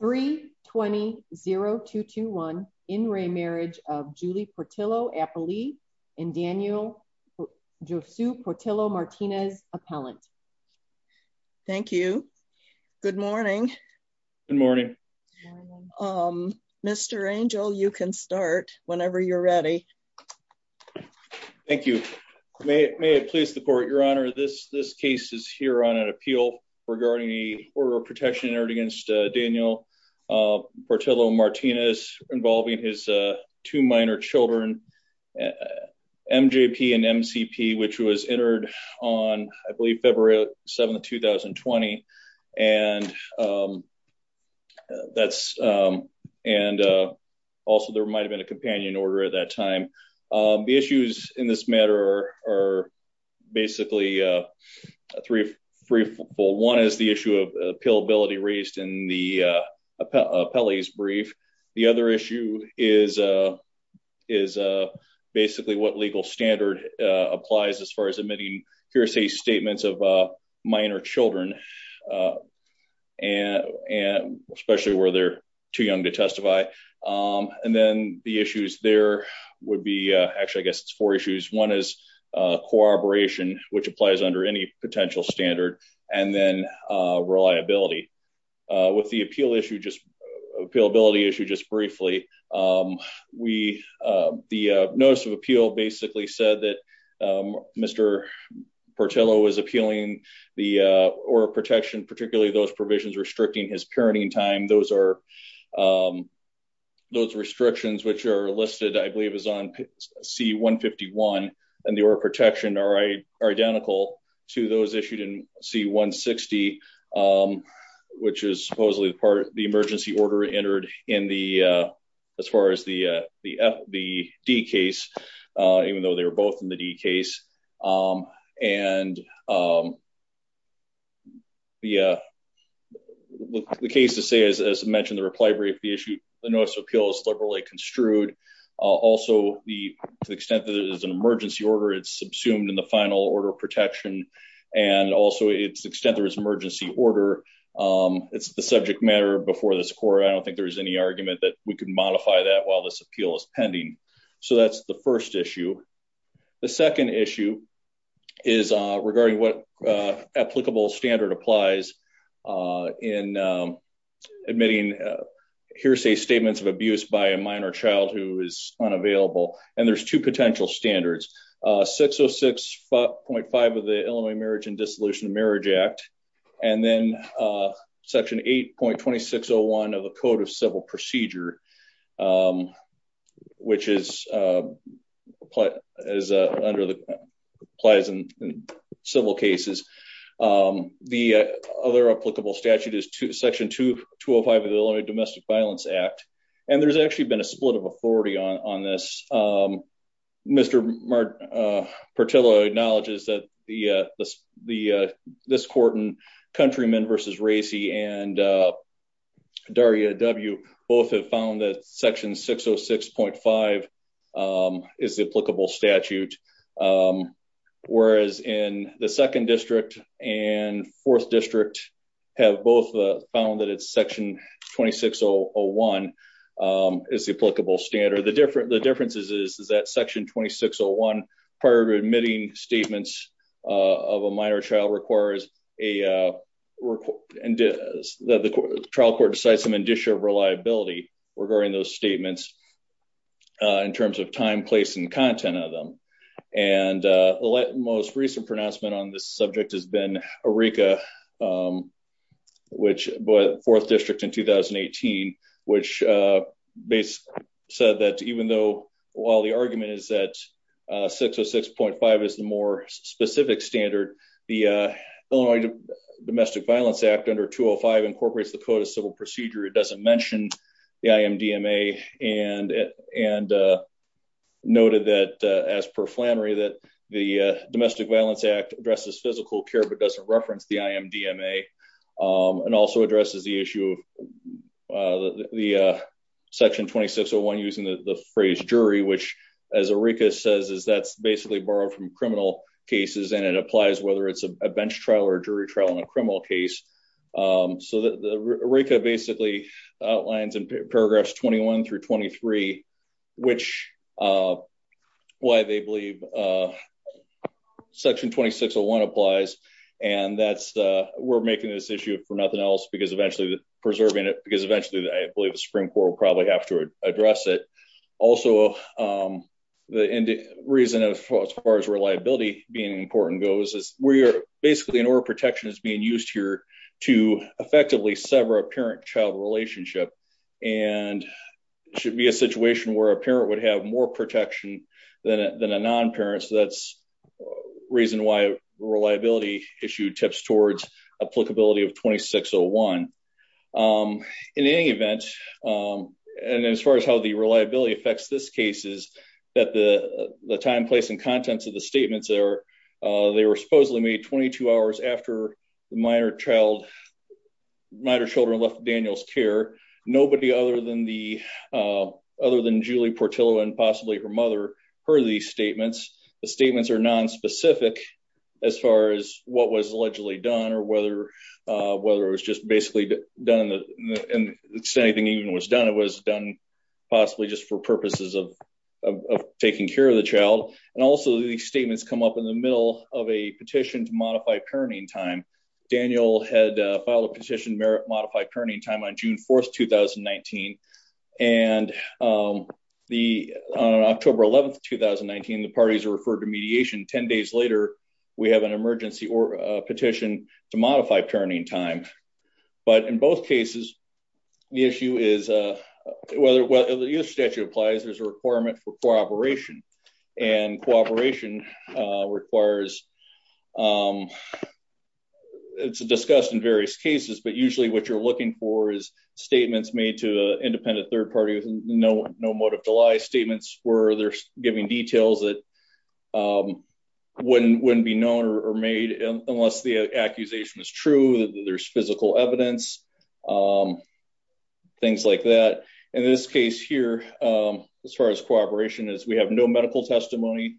3 20 0 2 2 1 in re Marriage of Julie Portillo Appley and Daniel Josue Portillo Martinez appellant. Thank you. Good morning. Good morning. Um, Mr. Angel, you can start whenever you're ready. Thank you. May it may it please the court, Your Honor, this this case is here on an appeal regarding the order of protection entered against Daniel Portillo Martinez involving his two minor children MJP and MCP, which was entered on, I believe, February 7 2020. And that's, and also there might have been a companion order at that time. The issues in this matter are basically three, three, four, one is the issue of appeal ability raised in the appellate's brief. The other issue is, is basically what legal standard applies as far as admitting hearsay statements of minor children, and, and especially where they're too young to testify. And then the issues there would be actually I guess it's four issues. One is cooperation, which applies under any potential standard, and then reliability. With the appeal issue just appeal ability issue just briefly, we, the notice of appeal basically said that Mr. Portillo was appealing the order of protection, particularly those restrictions which are listed I believe is on C 151, and the order of protection are identical to those issued in C 160, which is supposedly the part of the emergency order entered in the, as far as the, the, the D case, even though they were both in the D case, and the, the case to say is, as I mentioned, the reply brief, the issue, the notice of appeal is liberally construed. Also the extent that it is an emergency order, it's subsumed in the final order of protection. And also it's extent there is emergency order. It's the subject matter before this court, I don't think there was any argument that we could modify that while this appeal is pending. So that's the first issue. The second issue is regarding what applicable standard applies in admitting hearsay statements of abuse by a minor child who is unavailable. And there's two potential standards, 606.5 of the Illinois Marriage and Dissolution of that is under the applies in civil cases. The other applicable statute is section 205 of the Illinois Domestic Violence Act. And there's actually been a split of authority on, on this. Mr. Martello acknowledges that the, the, this court and countrymen versus Racy and Daria W both have found that section 606.5 is the applicable statute, whereas in the second district and fourth district have both found that it's section 2601 is the applicable standard. The difference, the differences is that section 2601 prior to admitting statements of a minor child requires a trial court to cite some indicia of reliability regarding those statements in terms of time, place, and content of them. And the most recent pronouncement on this subject has been a RICA, which fourth district in 2018, which basically said that even though, while the argument is that 606.5 is the more the Illinois Domestic Violence Act under 205 incorporates the code of civil procedure, it doesn't mention the IMDMA and, and noted that as per Flannery, that the Domestic Violence Act addresses physical care, but doesn't reference the IMDMA and also addresses the issue of the section 2601 using the phrase jury, which as a RICA says is that's basically borrowed from criminal cases and it applies whether it's a bench trial or jury trial in a criminal case. So the RICA basically outlines in paragraphs 21 through 23, which why they believe section 2601 applies and that's we're making this issue for nothing else because eventually preserving it because eventually I believe the Supreme Court will probably have to address it. Also, the reason as far as reliability being important goes is we are basically in order protection is being used here to effectively sever a parent-child relationship and should be a situation where a parent would have more protection than a non-parent, so that's reason why reliability issue tips towards applicability of 2601. In any event, and as far as how the reliability affects this case is that the time, place and contents of the statements there, they were supposedly made 22 hours after the minor child, minor children left Daniel's care. Nobody other than the, other than Julie Portillo and possibly her mother heard these statements. The statements are nonspecific as far as what was allegedly done or whether, whether it was just basically done and anything even was done, it was done possibly just for purposes of taking care of the child and also these statements come up in the middle of a petition to modify parenting time. Daniel had filed a petition to modify parenting time on June 4th, 2019 and the, on October 11th, 2019, the parties are referred to mediation 10 days later, we have an emergency petition to modify parenting time. But in both cases, the issue is whether the US statute applies, there's a requirement for cooperation and cooperation requires, it's discussed in various cases, but usually what you're looking for is statements made to independent third parties, no motive to lie statements where they're giving details that wouldn't, wouldn't be known or made unless the accusation is true, that there's physical evidence, things like that. In this case here, as far as cooperation is, we have no medical testimony.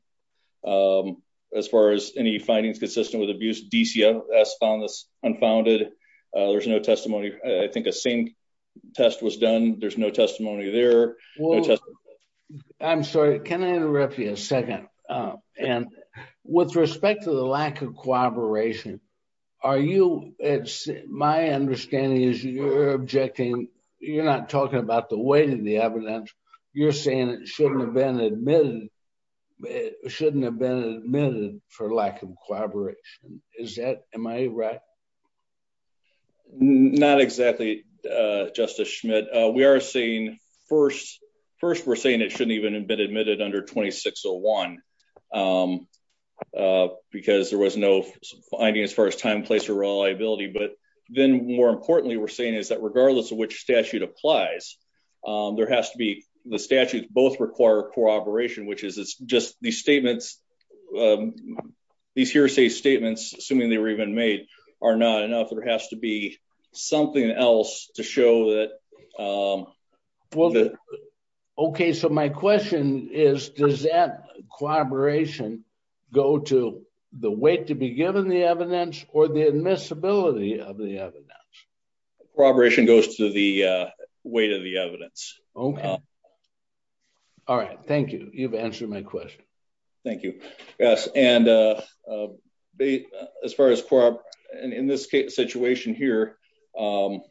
As far as any findings consistent with abuse, DCS found this unfounded. There's no testimony. I think a same test was done. There's no testimony there. I'm sorry, can I interrupt you a second? And with respect to the lack of cooperation, are you, it's my understanding is you're objecting. You're not talking about the weight of the evidence. You're saying it shouldn't have been admitted, shouldn't have been admitted for lack of collaboration. Is that, am I right? Not exactly. Uh, justice Schmidt, uh, we are seeing first, first we're saying it shouldn't even have been admitted under 2601, um, uh, because there was no finding as far as time, place or reliability. But then more importantly, we're saying is that regardless of which statute applies, um, there has to be the statutes both require cooperation, which is, it's just these statements, um, these hearsay statements, assuming they were even made are not enough. There has to be something else to show that, um, well, okay. So my question is, does that corroboration go to the weight to be given the evidence or the admissibility of the evidence? Corroboration goes to the, uh, weight of the evidence. Okay. All right. Thank you. You've answered my question. Thank you. Yes. And, uh, uh, as far as, and in this situation here, um,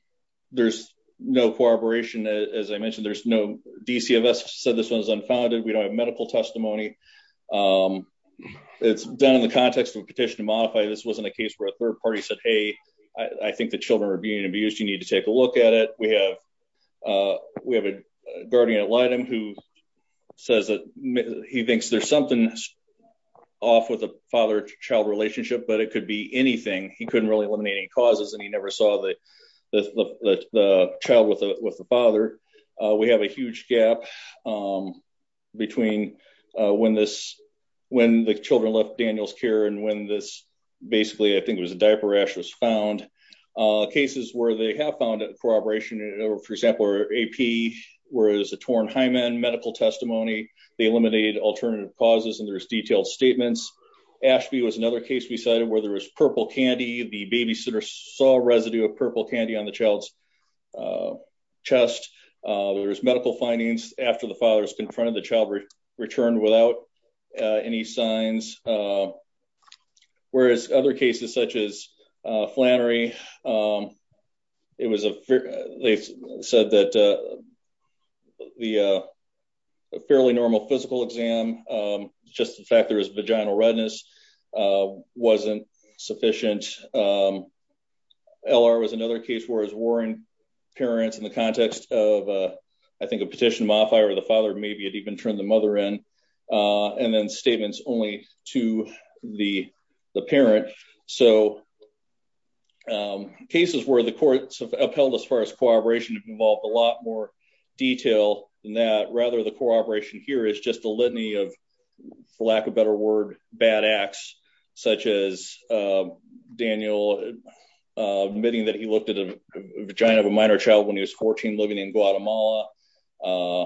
there's no corroboration. As I mentioned, there's no DC of us said this one is unfounded. We don't have medical testimony. Um, it's done in the context of a petition to modify. This wasn't a case where a third party said, Hey, I think the children are being abused. You need to take a look at it. We have, uh, we have a guardian at Lytton who says that he thinks there's something off with a father child relationship, but it could be anything. He couldn't really eliminate any causes and he never saw the, the, the, the, the child with the, with the father. Uh, we have a huge gap, um, between, uh, when this, when the children left Daniel's care and when this basically, I think it was a diaper rash was found, uh, cases where they have found it in corroboration. And for example, AP where it was a torn hymen medical testimony, they eliminated alternative causes and there was detailed statements. Ashby was another case we cited where there was purple candy. The babysitter saw residue of purple candy on the child's, uh, chest. Uh, there was medical findings after the father's confronted the child returned without, uh, any signs. Uh, whereas other cases such as, uh, Flannery, um, it was a fair, they said that, uh, the, uh, a fairly normal physical exam, um, just the fact that there was vaginal redness, uh, wasn't sufficient, um, LR was another case where his Warren parents in the context of, uh, I think a petition to modify or the father, maybe it even turned the mother in, uh, and then statements only to the, the parent. So, um, cases where the courts have upheld as far as corroboration involved a lot more detail than that. Rather the cooperation here is just a litany of lack of better word, bad acts, such as, uh, Daniel, uh, admitting that he looked at a vagina of a minor child when he was 14, living in Guatemala, uh,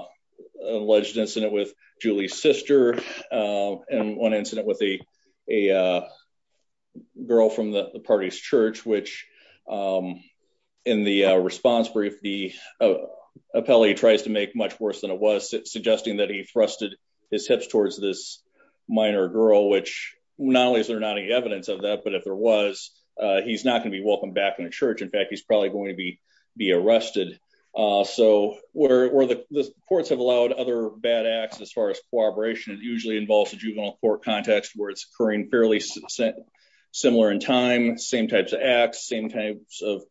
alleged incident with Julie's sister, um, and one incident with the, a, uh, girl from the party's church, which, um, in the response brief, the, uh, appellee tries to make much worse than it was suggesting that he thrusted his hips towards this minor girl, which not only is there not any evidence of that, but if there was, uh, he's not going to be welcomed back in the church. In fact, he's probably going to be, be arrested. Uh, so where, where the courts have allowed other bad acts as far as corroboration, it usually involves a juvenile court context where it's occurring fairly similar in time, same types of acts, same types of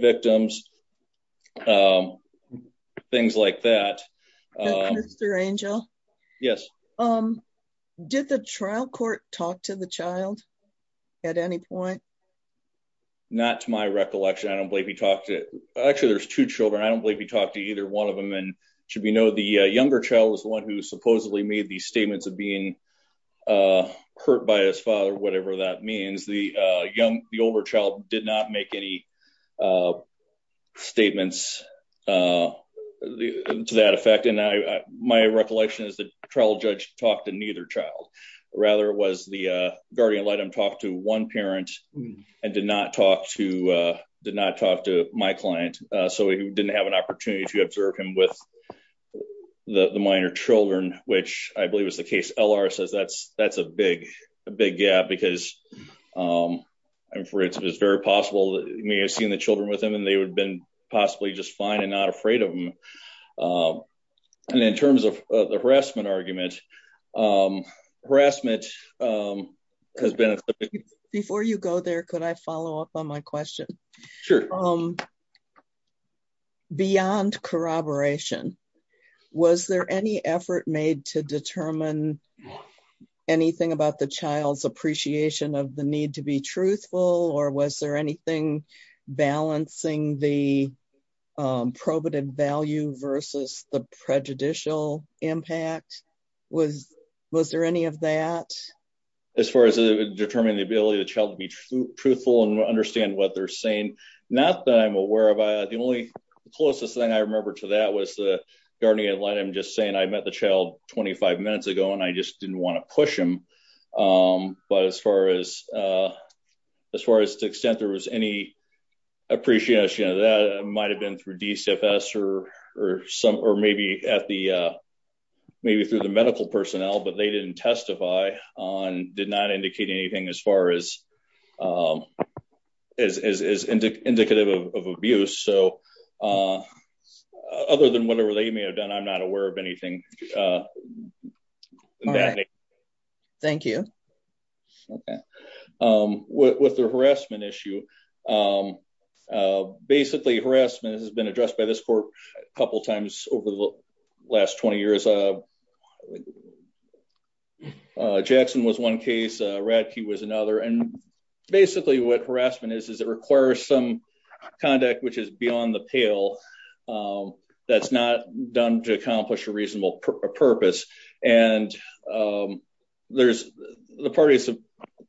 victims. Um, things like that, um, yes. Um, did the trial court talk to the child at any point? Not to my recollection. I don't believe he talked to, actually there's two children. I don't believe he talked to either one of them. And should we know the younger child was the one who supposedly made these statements of being, uh, hurt by his father, whatever that means, the, uh, the older child did not make any, uh, statements, uh, to that effect. And I, my recollection is the trial judge talked to neither child rather was the, uh, guardian let him talk to one parent and did not talk to, uh, did not talk to my client. Uh, so he didn't have an opportunity to observe him with the minor children, which I believe was the case. LR says that's, that's a big, big gap because, um, and for instance, it's very possible that may have seen the children with them and they would have been possibly just fine and not afraid of them, um, and in terms of the harassment argument, um, harassment, um, has been, before you go there, could I follow up on my question? Sure. Um, beyond corroboration, was there any effort made to determine anything about the child's appreciation of the need to be truthful? Or was there anything balancing the, um, probative value versus the prejudicial impact was, was there any of that? As far as determining the ability of the child to be truthful and understand what they're saying. Not that I'm aware of. I, the only closest thing I remember to that was the guardian just saying I met the child 25 minutes ago and I just didn't want to push him. Um, but as far as, uh, as far as the extent there was any appreciation of that, it might've been through DCFS or, or some, or maybe at the, uh, maybe through the medical personnel, but they didn't testify on, did not indicate anything as far as, um, as, as, as indicative of abuse. So, uh, other than whatever they may have done, I'm not aware of anything. Uh, thank you. Okay. Um, what, what's the harassment issue? Um, uh, basically harassment has been addressed by this court a couple of times over the last 20 years. Uh, uh, Jackson was one case, uh, Radke was another. And basically what harassment is, is it requires some conduct, which is beyond the pale, um, that's not done to accomplish a reasonable purpose. And, um, there's the parties have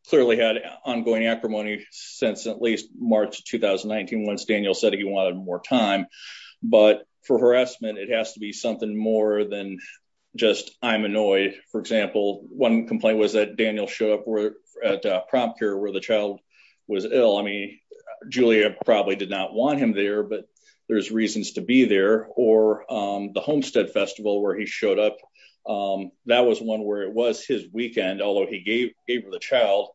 clearly had ongoing acrimony since at least March, 2019, once Daniel said he wanted more time, but for harassment, it has to be something more than just I'm annoyed. For example, one complaint was that Daniel showed up at a prompt care where the child was ill. Julia probably did not want him there, but there's reasons to be there. Or, um, the homestead festival where he showed up, um, that was one where it was his weekend, although he gave, gave her the child.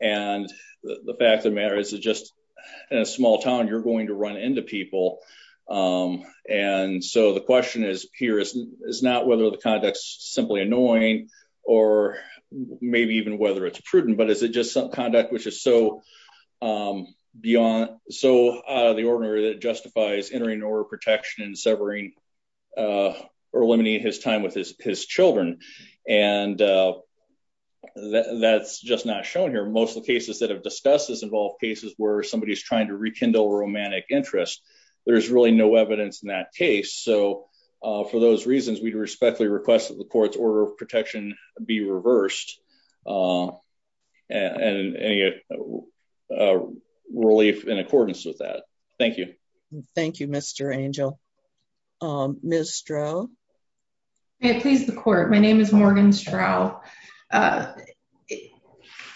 And the fact of the matter is that just in a small town, you're going to run into people. Um, and so the question is here is, is not whether the conduct is simply annoying or maybe even whether it's prudent, but is it just some conduct, which is so, um, beyond, so, uh, the order that justifies entering an order of protection and severing. Uh, or eliminating his time with his, his children. And, uh, that that's just not shown here. Most of the cases that have discussed this involve cases where somebody is trying to rekindle romantic interest. There's really no evidence in that case. So, uh, for those reasons, we respectfully request that the court's order of protection be reversed. Um, and, and, and, uh, uh, relief in accordance with that. Thank you. Thank you, Mr. Angel. Um, Ms. Stroh. May it please the court. My name is Morgan Strow. Uh,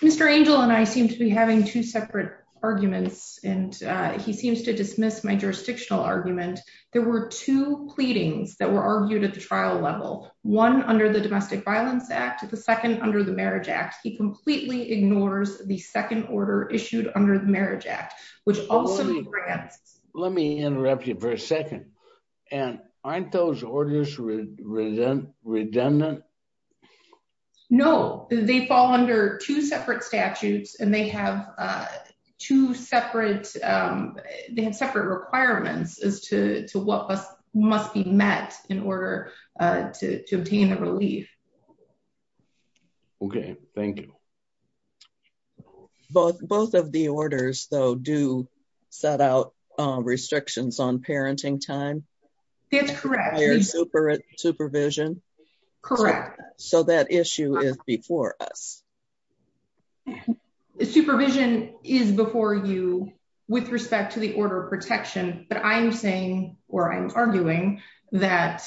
Mr. Angel and I seem to be having two separate arguments and, uh, he seems to dismiss my jurisdictional argument. There were two pleadings that were argued at the trial level, one under the domestic violence act, the second under the marriage act, he completely ignores the second order issued under the marriage act, which also grants, let me interrupt you for a second and aren't those orders. No, they fall under two separate statutes and they have, uh, two separate, um, they have separate requirements as to what must be met in order, uh, to, to the relief. Okay. Thank you. Both, both of the orders though, do set out, uh, restrictions on parenting time. That's correct. Higher supervision. Correct. So that issue is before us. Supervision is before you with respect to the order of protection, but I'm saying, or I'm arguing that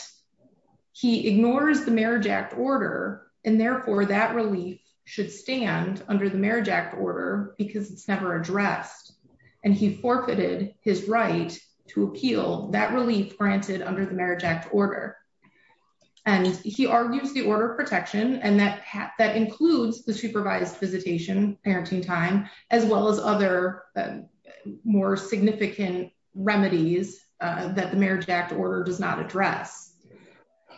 he ignores the marriage act order and therefore that relief should stand under the marriage act order because it's never addressed and he forfeited his right to appeal that relief granted under the marriage act order. And he argues the order of protection. And that, that includes the supervised visitation parenting time, as well as other, uh, more significant remedies, uh, that the marriage act order does not address.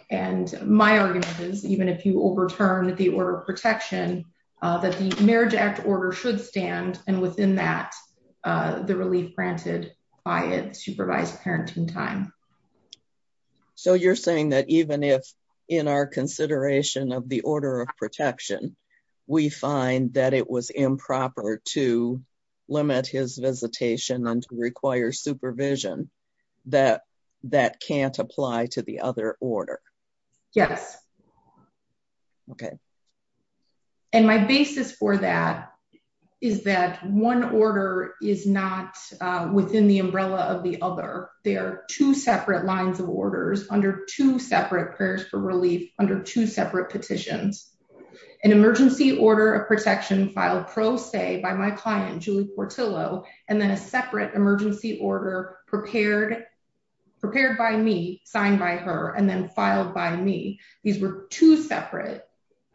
And my argument is even if you overturn the order of protection, uh, that the marriage act order should stand. And within that, uh, the relief granted by it supervised parenting time. So you're saying that even if in our consideration of the order of protection, we find that it was improper to limit his visitation and to require supervision that, that can't apply to the other order. Yes. Okay. And my basis for that is that one order is not, uh, within the umbrella of the other, there are two separate lines of orders under two separate prayers for relief under two separate petitions. An emergency order of protection filed pro se by my client, Julie Portillo, and then a separate emergency order prepared, prepared by me, signed by her and then filed by me. These were two separate,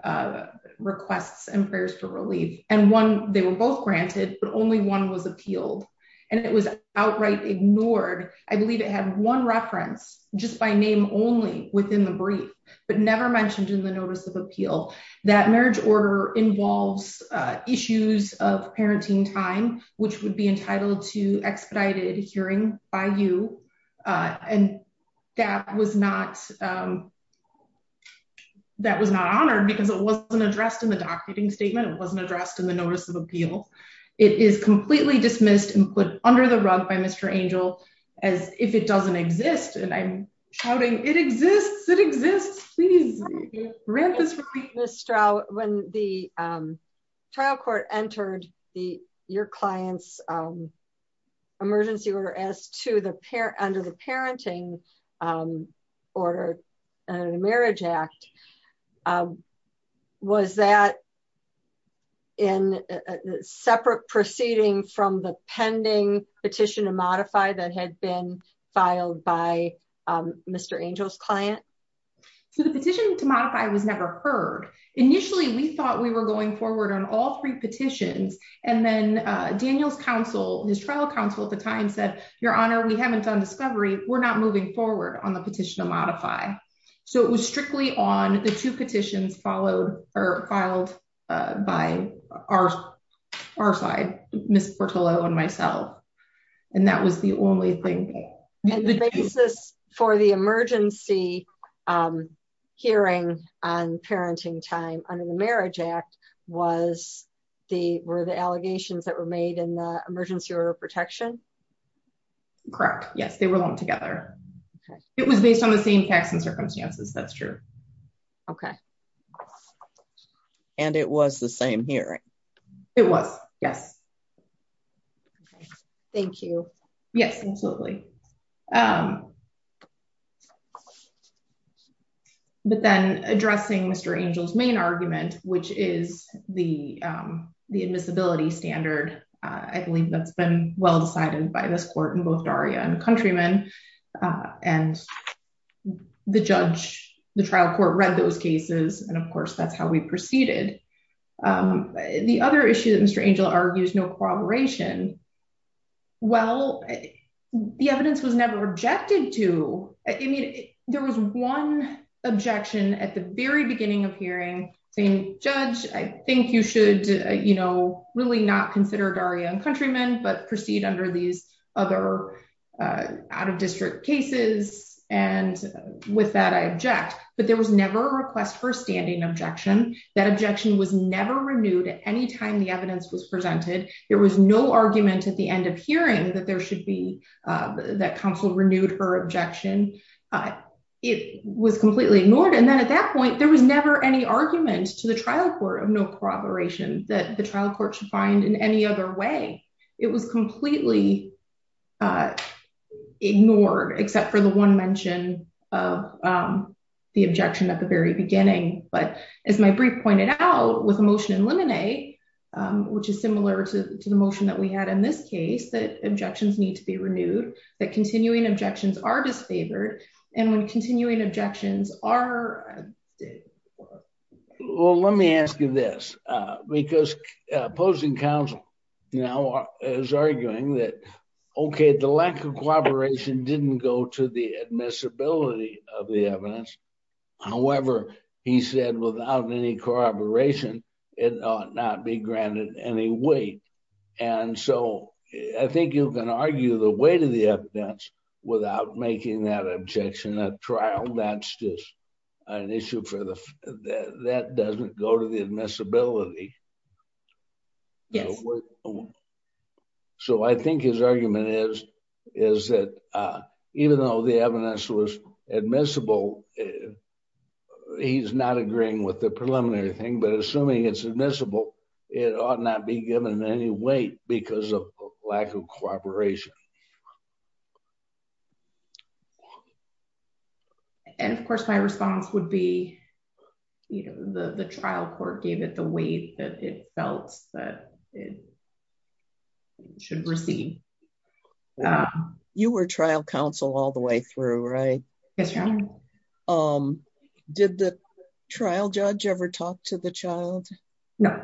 uh, requests and prayers for relief. And one, they were both granted, but only one was appealed and it was outright ignored. I believe it had one reference just by name only within the brief, but never mentioned in the notice of appeal that marriage order involves, uh, issues of parenting time, which would be entitled to expedited hearing by you. Uh, and that was not, um, that was not honored because it wasn't addressed in the documenting statement. It wasn't addressed in the notice of appeal. It is completely dismissed and put under the rug by Mr. Angel as if it doesn't exist. And I'm shouting, it exists. It exists. Please read this when the, um, trial court entered the, your client's, um, emergency order as to the pair under the parenting, um, order and the marriage act, um, was that in a separate proceeding from the pending petition to modify that had been filed by, um, Mr. Angel's client. So the petition to modify was never heard. Initially. We thought we were going forward on all three petitions. And then, uh, Daniel's counsel, his trial counsel at the time said, your honor, we haven't done discovery. We're not moving forward on the petition to modify. So it was strictly on the two petitions followed or filed, uh, by our, our side, Ms. Portola and myself. And that was the only thing for the emergency, um, hearing on parenting time under the marriage act was the, were the allegations that were made in the emergency order of protection? Correct. Yes. They were all together. It was based on the same facts and circumstances. That's true. Okay. And it was the same hearing. It was yes. Thank you. Yes, absolutely. Um, but then addressing Mr. Angel's main argument, which is the, um, the admissibility standard, uh, I believe that's been well decided by this court and both Daria and countrymen. Uh, and the judge, the trial court read those cases. And of course that's how we proceeded. Um, the other issue that Mr. Angel argues no corroboration. Well, the evidence was never rejected to, I mean, there was one objection at the very beginning of hearing saying judge, I think you should, you know, really not consider Daria and countrymen, but proceed under these other, uh, out of district cases and with that, I object, but there was never a request for a standing objection that objection was never renewed at any time the evidence was presented. There was no argument at the end of hearing that there should be, uh, that council renewed her objection. Uh, it was completely ignored. And then at that point, there was never any argument to the trial court of no corroboration that the trial court should find in any other way, it was completely. Uh, ignored except for the one mention of, um, the objection at the very beginning, but as my brief pointed out with emotion and lemonade, um, which is similar to the motion that we had in this case, that objections need to be renewed, that continuing objections are disfavored and when continuing objections are, well, let me ask you this, uh, because, uh, opposing council, you know, is arguing that, okay, the lack of cooperation didn't go to the admissibility of the evidence. However, he said without any corroboration, it ought not be granted any weight. And so I think you can argue the weight of the evidence without making that objection at trial. That's just an issue for the, that doesn't go to the admissibility. So I think his argument is, is that, uh, even though the evidence was admissible, he's not agreeing with the preliminary thing, but assuming it's admissible, it ought not be given any weight because of lack of cooperation. And of course my response would be, you know, the, the trial court gave it the weight that it felt that it should receive. Um, you were trial counsel all the way through, right? Yes. Um, did the trial judge ever talk to the child? No.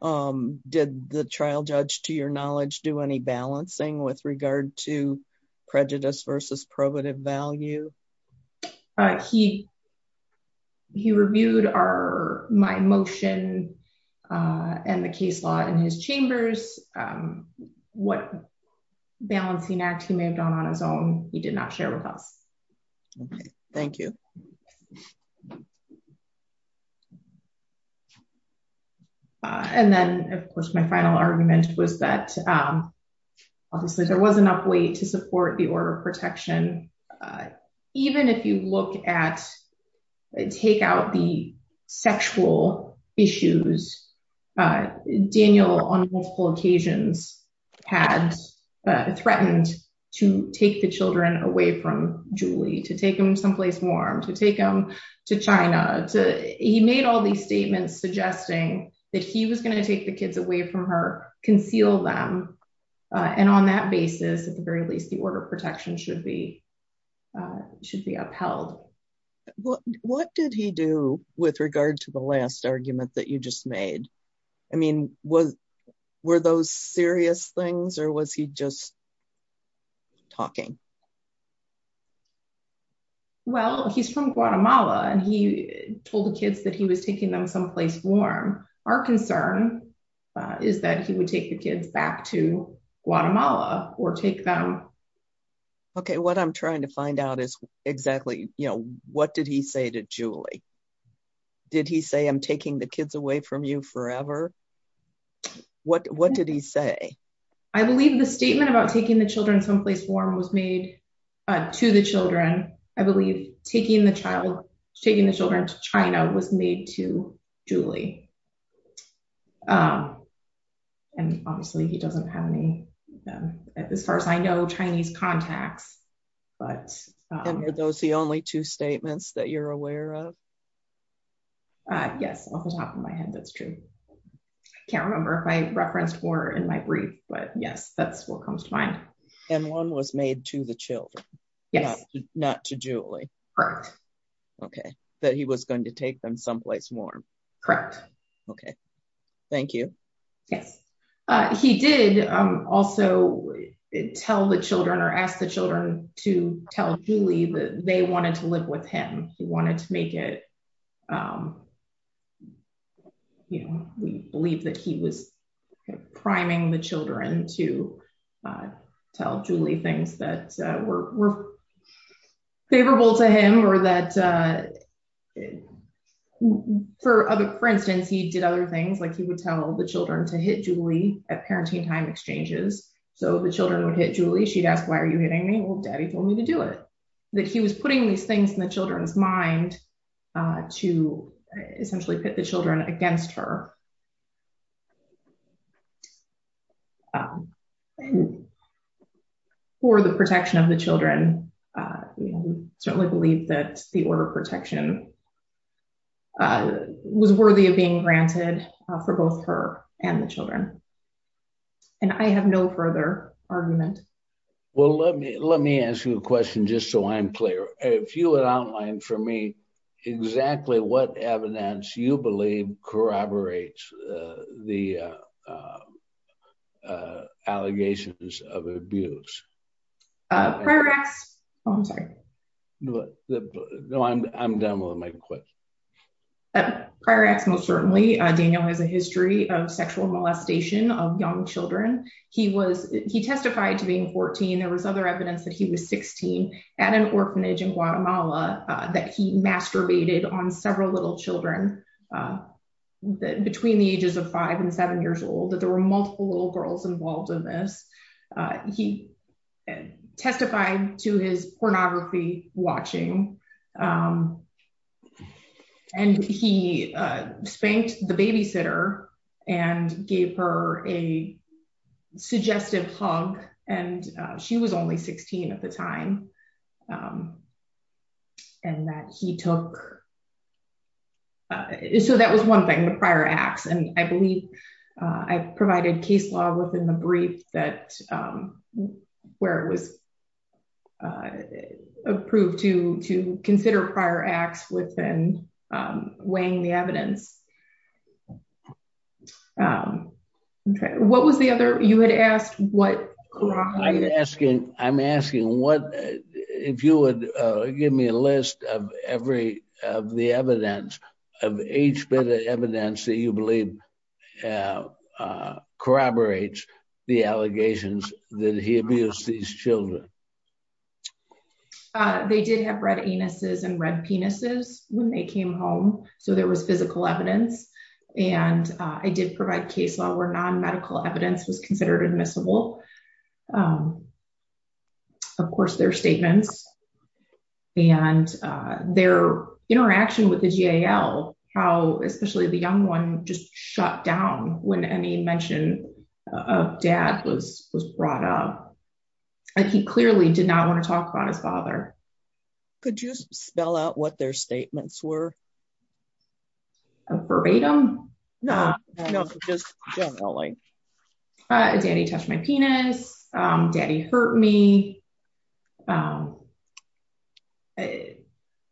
Um, did the trial judge to your knowledge, do any balancing with regard to prejudice versus probative value? Uh, he, he reviewed our, my motion, uh, and the case law in his chambers. Um, what balancing act he may have done on his own. He did not share with us. Okay. Thank you. Uh, and then of course my final argument was that, um, obviously there was enough weight to support the order of protection. Uh, even if you look at, take out the sexual issues, uh, Daniel on multiple occasions had, uh, threatened to take the children away from Julie, to take them someplace warm, to take them to China, to, he made all these statements suggesting that he was going to take the kids away from her, conceal them. Uh, and on that basis, at the very least, the order of protection should be, uh, should be upheld. Well, what did he do with regard to the last argument that you just made? I mean, was, were those serious things or was he just talking? Well, he's from Guatemala and he told the kids that he was taking them someplace warm. Our concern is that he would take the kids back to Guatemala or take them. Okay. What I'm trying to find out is exactly, you know, what did he say to Julie? Did he say, I'm taking the kids away from you forever? What, what did he say? I believe the statement about taking the children someplace warm was made, uh, to the children. I believe taking the child, taking the children to China was made to Julie. Um, and obviously he doesn't have any, um, as far as I know, Chinese contacts. But, um, are those the only two statements that you're aware of? Uh, yes, off the top of my head. That's true. I can't remember if I referenced more in my brief, but yes, that's what comes to mind. And one was made to the children, not to Julie. Okay. That he was going to take them someplace warm. Correct. Okay. Thank you. Yes. Uh, he did, um, also tell the children or ask the children to tell Julie that they wanted to live with him. He wanted to make it, um, you know, we believe that he was priming the children to, uh, tell Julie things that were favorable to him or that, uh, for other, for instance, he did other things, like he would tell the children to hit Julie at parenting time exchanges. So the children would hit Julie. She'd ask, why are you hitting me? Well, daddy told me to do it. That he was putting these things in the children's mind, uh, to essentially put the children against her. Um, for the protection of the children, uh, certainly believe that the order of protection, uh, was worthy of being granted for both her and the children. And I have no further argument. Well, let me, let me ask you a question just so I'm clear. If you would outline for me exactly what evidence you believe corroborates, uh, the, uh, uh, uh, allegations of abuse. Uh, I'm sorry. No, no, I'm, I'm done with my question. Prior acts. Most certainly, uh, Daniel has a history of sexual molestation of young children. He was, he testified to being 14. There was other evidence that he was 16 at an orphanage in Guatemala, uh, that he masturbated on several little children, uh, between the ages of five and seven years old, that there were multiple little girls involved in this. Uh, he testified to his pornography watching. Um, and he, uh, spanked the babysitter and gave her a suggestive hug and, uh, she was only 16 at the time. Um, and that he took, uh, so that was one thing, the prior acts. And I believe, uh, I've provided case law within the brief that, um, where it was, uh, approved to, to consider prior acts within, um, weighing the evidence. Um, okay. What was the other, you had asked what asking, I'm asking what, if you would give me a list of every, of the evidence of each bit of evidence that you believe, uh, uh, corroborates the allegations that he abused these children. Uh, they did have red anuses and red penises when they came home. So there was physical evidence. And, uh, I did provide case law where non-medical evidence was considered admissible, um, of course their statements and, uh, their interaction with the GAL, how, especially the young one just shut down when any mention of dad was, was brought up. Like he clearly did not want to talk about his father. Could you spell out what their statements were? A verbatim? No, no, just generally. Uh, daddy touched my penis. Um, daddy hurt me. Um, they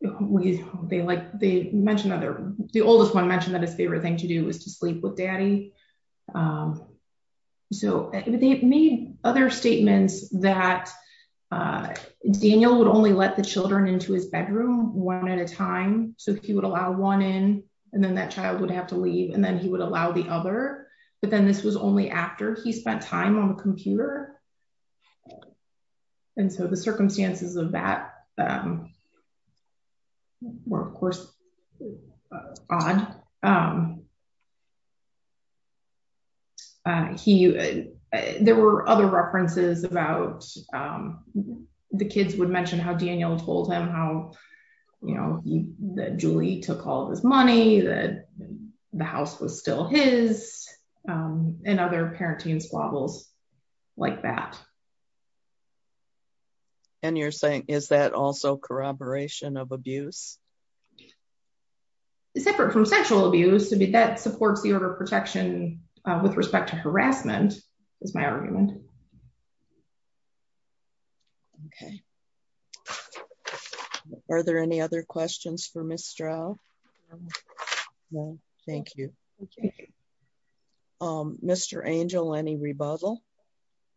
like, they mentioned other, the oldest one mentioned that his favorite thing to do was to sleep with daddy. Um, so they've made other statements that, uh, Daniel would only let the children into his bedroom one at a time. So if he would allow one in and then that child would have to leave and then he would allow the other, but then this was only after he spent time on the computer and so the circumstances of that, um, were of course odd. Um, uh, he, uh, there were other references about, um, the kids would mention how Daniel told him how, you know, that Julie took all of his money, that the house was still his, um, and other parenting squabbles like that. And you're saying, is that also corroboration of abuse? Separate from sexual abuse to be, that supports the order of protection, uh, with respect to harassment is my argument. Okay. Are there any other questions for Ms. Straub? No. Thank you. Okay. Um, Mr. Angel, any rebuttal?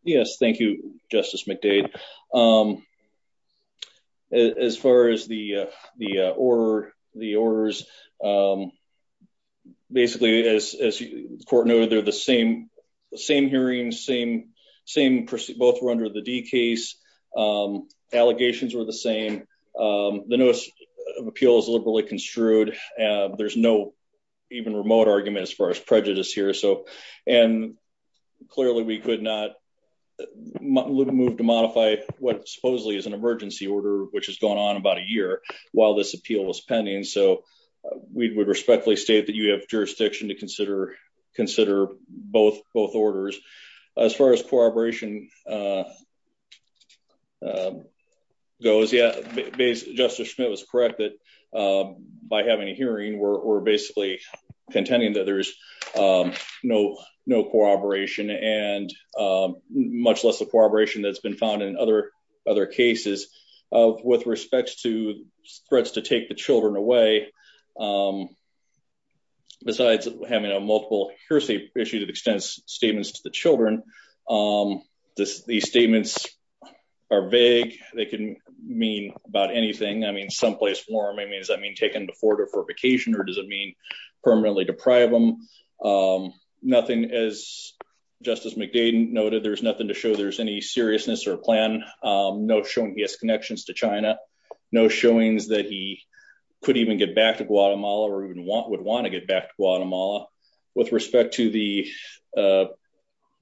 Yes. Thank you, Justice McDade. Um, as far as the, uh, the, uh, or the orders, um, basically as, as the court noted, they're the same, same hearing, same, same person, both were under the D case, um, allegations were the same. Um, the notice of appeal is liberally construed. Uh, there's no even remote argument as far as prejudice here. So, and clearly we could not move to modify what supposedly is an emergency order, which has gone on about a year while this appeal was pending. So we would respectfully state that you have jurisdiction to consider, consider both, both orders. As far as corroboration, uh, uh, goes, yeah. Justice Schmidt was correct that, um, by having a hearing we're, we're no, no corroboration and, um, much less the corroboration that's been found in other, other cases, uh, with respects to threats to take the children away. Um, besides having a multiple hearsay issue that extends statements to the children, um, this, these statements are vague. They can mean about anything. I mean, someplace warm. I mean, does that mean taken before or for vacation or does it mean permanently deprive them? Um, nothing as Justice McDade noted, there's nothing to show there's any seriousness or plan. Um, no showing he has connections to China, no showings that he could even get back to Guatemala or even want, would want to get back to Guatemala. With respect to the, uh,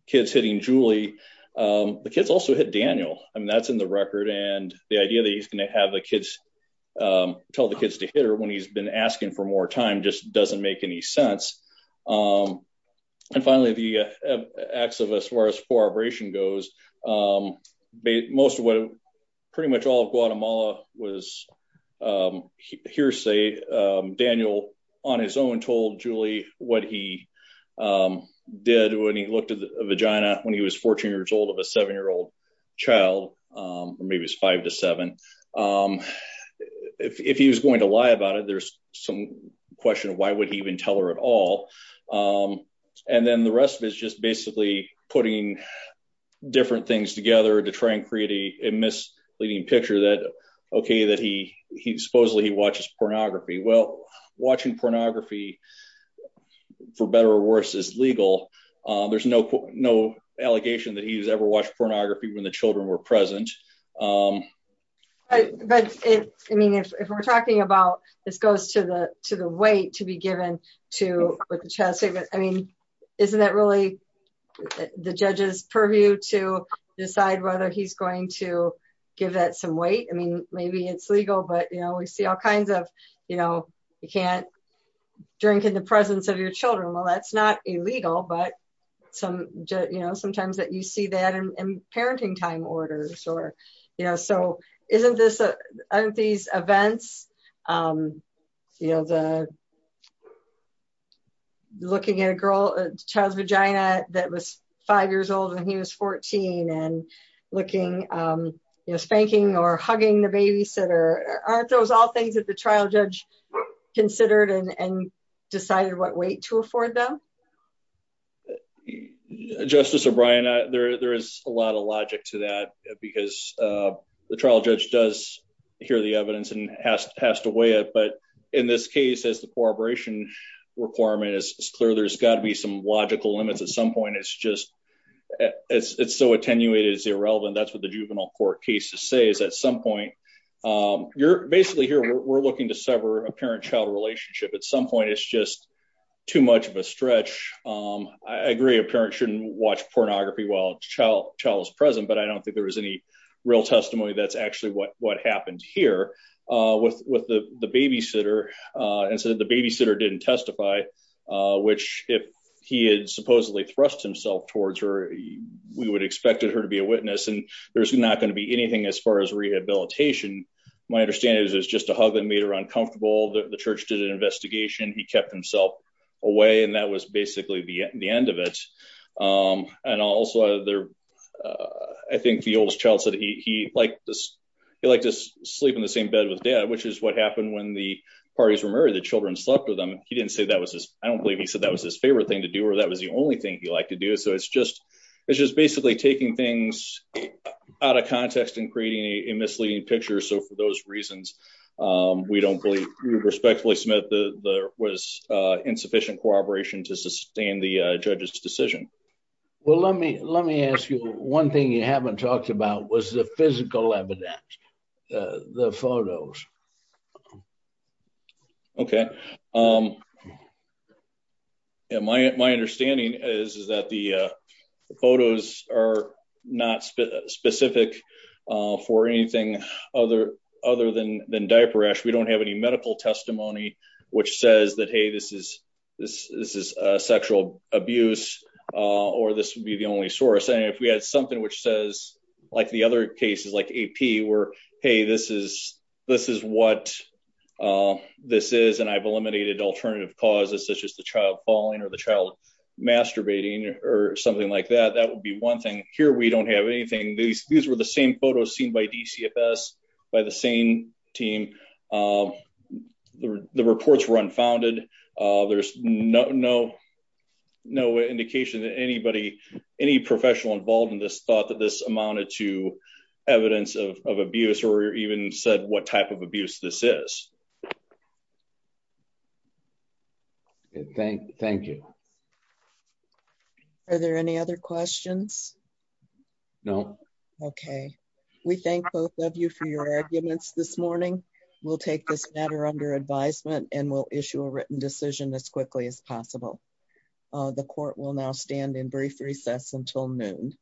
kids hitting Julie, um, the kids also hit Daniel. I mean, that's in the record and the idea that he's going to have the kids, um, tell the kids to hit her when he's been asking for more time just doesn't make any sense, um, and finally, the, uh, acts of as far as corroboration goes. Um, most of what, pretty much all of Guatemala was, um, hearsay. Um, Daniel on his own told Julie what he, um, did when he looked at the vagina when he was 14 years old of a seven-year-old child, um, maybe it's five to seven, um, if he was going to lie about it, there's some question of why would he even tell her at all? Um, and then the rest of it is just basically putting different things together to try and create a misleading picture that, okay, that he, he supposedly he watches pornography. Well, watching pornography for better or worse is legal. Uh, there's no, no allegation that he's ever watched pornography when the children were present. Um, I mean, if we're talking about this goes to the, to the way to be given to with the child statement. I mean, isn't that really the judge's purview to decide whether he's going to give that some weight? I mean, maybe it's legal, but you know, we see all kinds of, you know, you can't drink in the presence of your children while that's not illegal, but. Some, you know, sometimes that you see that in parenting time orders or, you know, so isn't this, uh, aren't these events, um, you know, uh, looking at a girl, a child's vagina that was five years old when he was 14 and looking, um, you know, spanking or hugging the babysitter, aren't those all things that the trial judge considered and decided what weight to afford them? Justice O'Brien, there, there is a lot of logic to that because, uh, the trial judge does hear the evidence and has to weigh it, but in this case, as the corroboration requirement is clear, there's gotta be some logical limits. At some point, it's just, it's so attenuated as irrelevant. That's what the juvenile court cases say is at some point, um, you're basically here, we're looking to sever a parent child relationship at some point. It's just too much of a stretch. Um, I agree. A parent shouldn't watch pornography while child child was present, but I what happened here, uh, with, with the, the babysitter, uh, and so that the babysitter didn't testify, uh, which if he had supposedly thrust himself towards her, we would expect her to be a witness and there's not going to be anything as far as rehabilitation. My understanding is it was just a hug that made her uncomfortable. The church did an investigation. He kept himself away and that was basically the end of it. Um, and also, uh, there, uh, I think the oldest child said he, he liked this, he liked to sleep in the same bed with dad, which is what happened when the parties were married, the children slept with them. He didn't say that was his, I don't believe he said that was his favorite thing to do, or that was the only thing he liked to do. So it's just, it's just basically taking things out of context and creating a misleading picture. So for those reasons, um, we don't believe, we would respectfully submit the, the, was, uh, insufficient corroboration to sustain the judge's decision. Well, let me, let me ask you one thing you haven't talked about was the physical evidence, uh, the photos. Okay. Um, yeah, my, my understanding is, is that the, uh, the photos are not specific, uh, for anything other, other than, than diaper rash. We don't have any medical testimony, which says that, Hey, this is, this, this is a sexual abuse, uh, or this would be the only source. And if we had something which says like the other cases like AP were, Hey, this is, this is what, uh, this is, and I've eliminated alternative causes, such as the child falling or the child masturbating or something like that. That would be one thing here. We don't have anything. These, these were the same photos seen by DCFS by the same team. Um, the, the reports were unfounded. Uh, there's no, no, no indication that anybody, any professional involved in this thought that this amounted to evidence of, of abuse or even said what type of abuse this is. Okay. Thank, thank you. Are there any other questions? No. Okay. We thank both of you for your arguments this morning. We'll take this matter under advisement and we'll issue a written decision as quickly as possible. Uh, the court will now stand in brief recess until noon.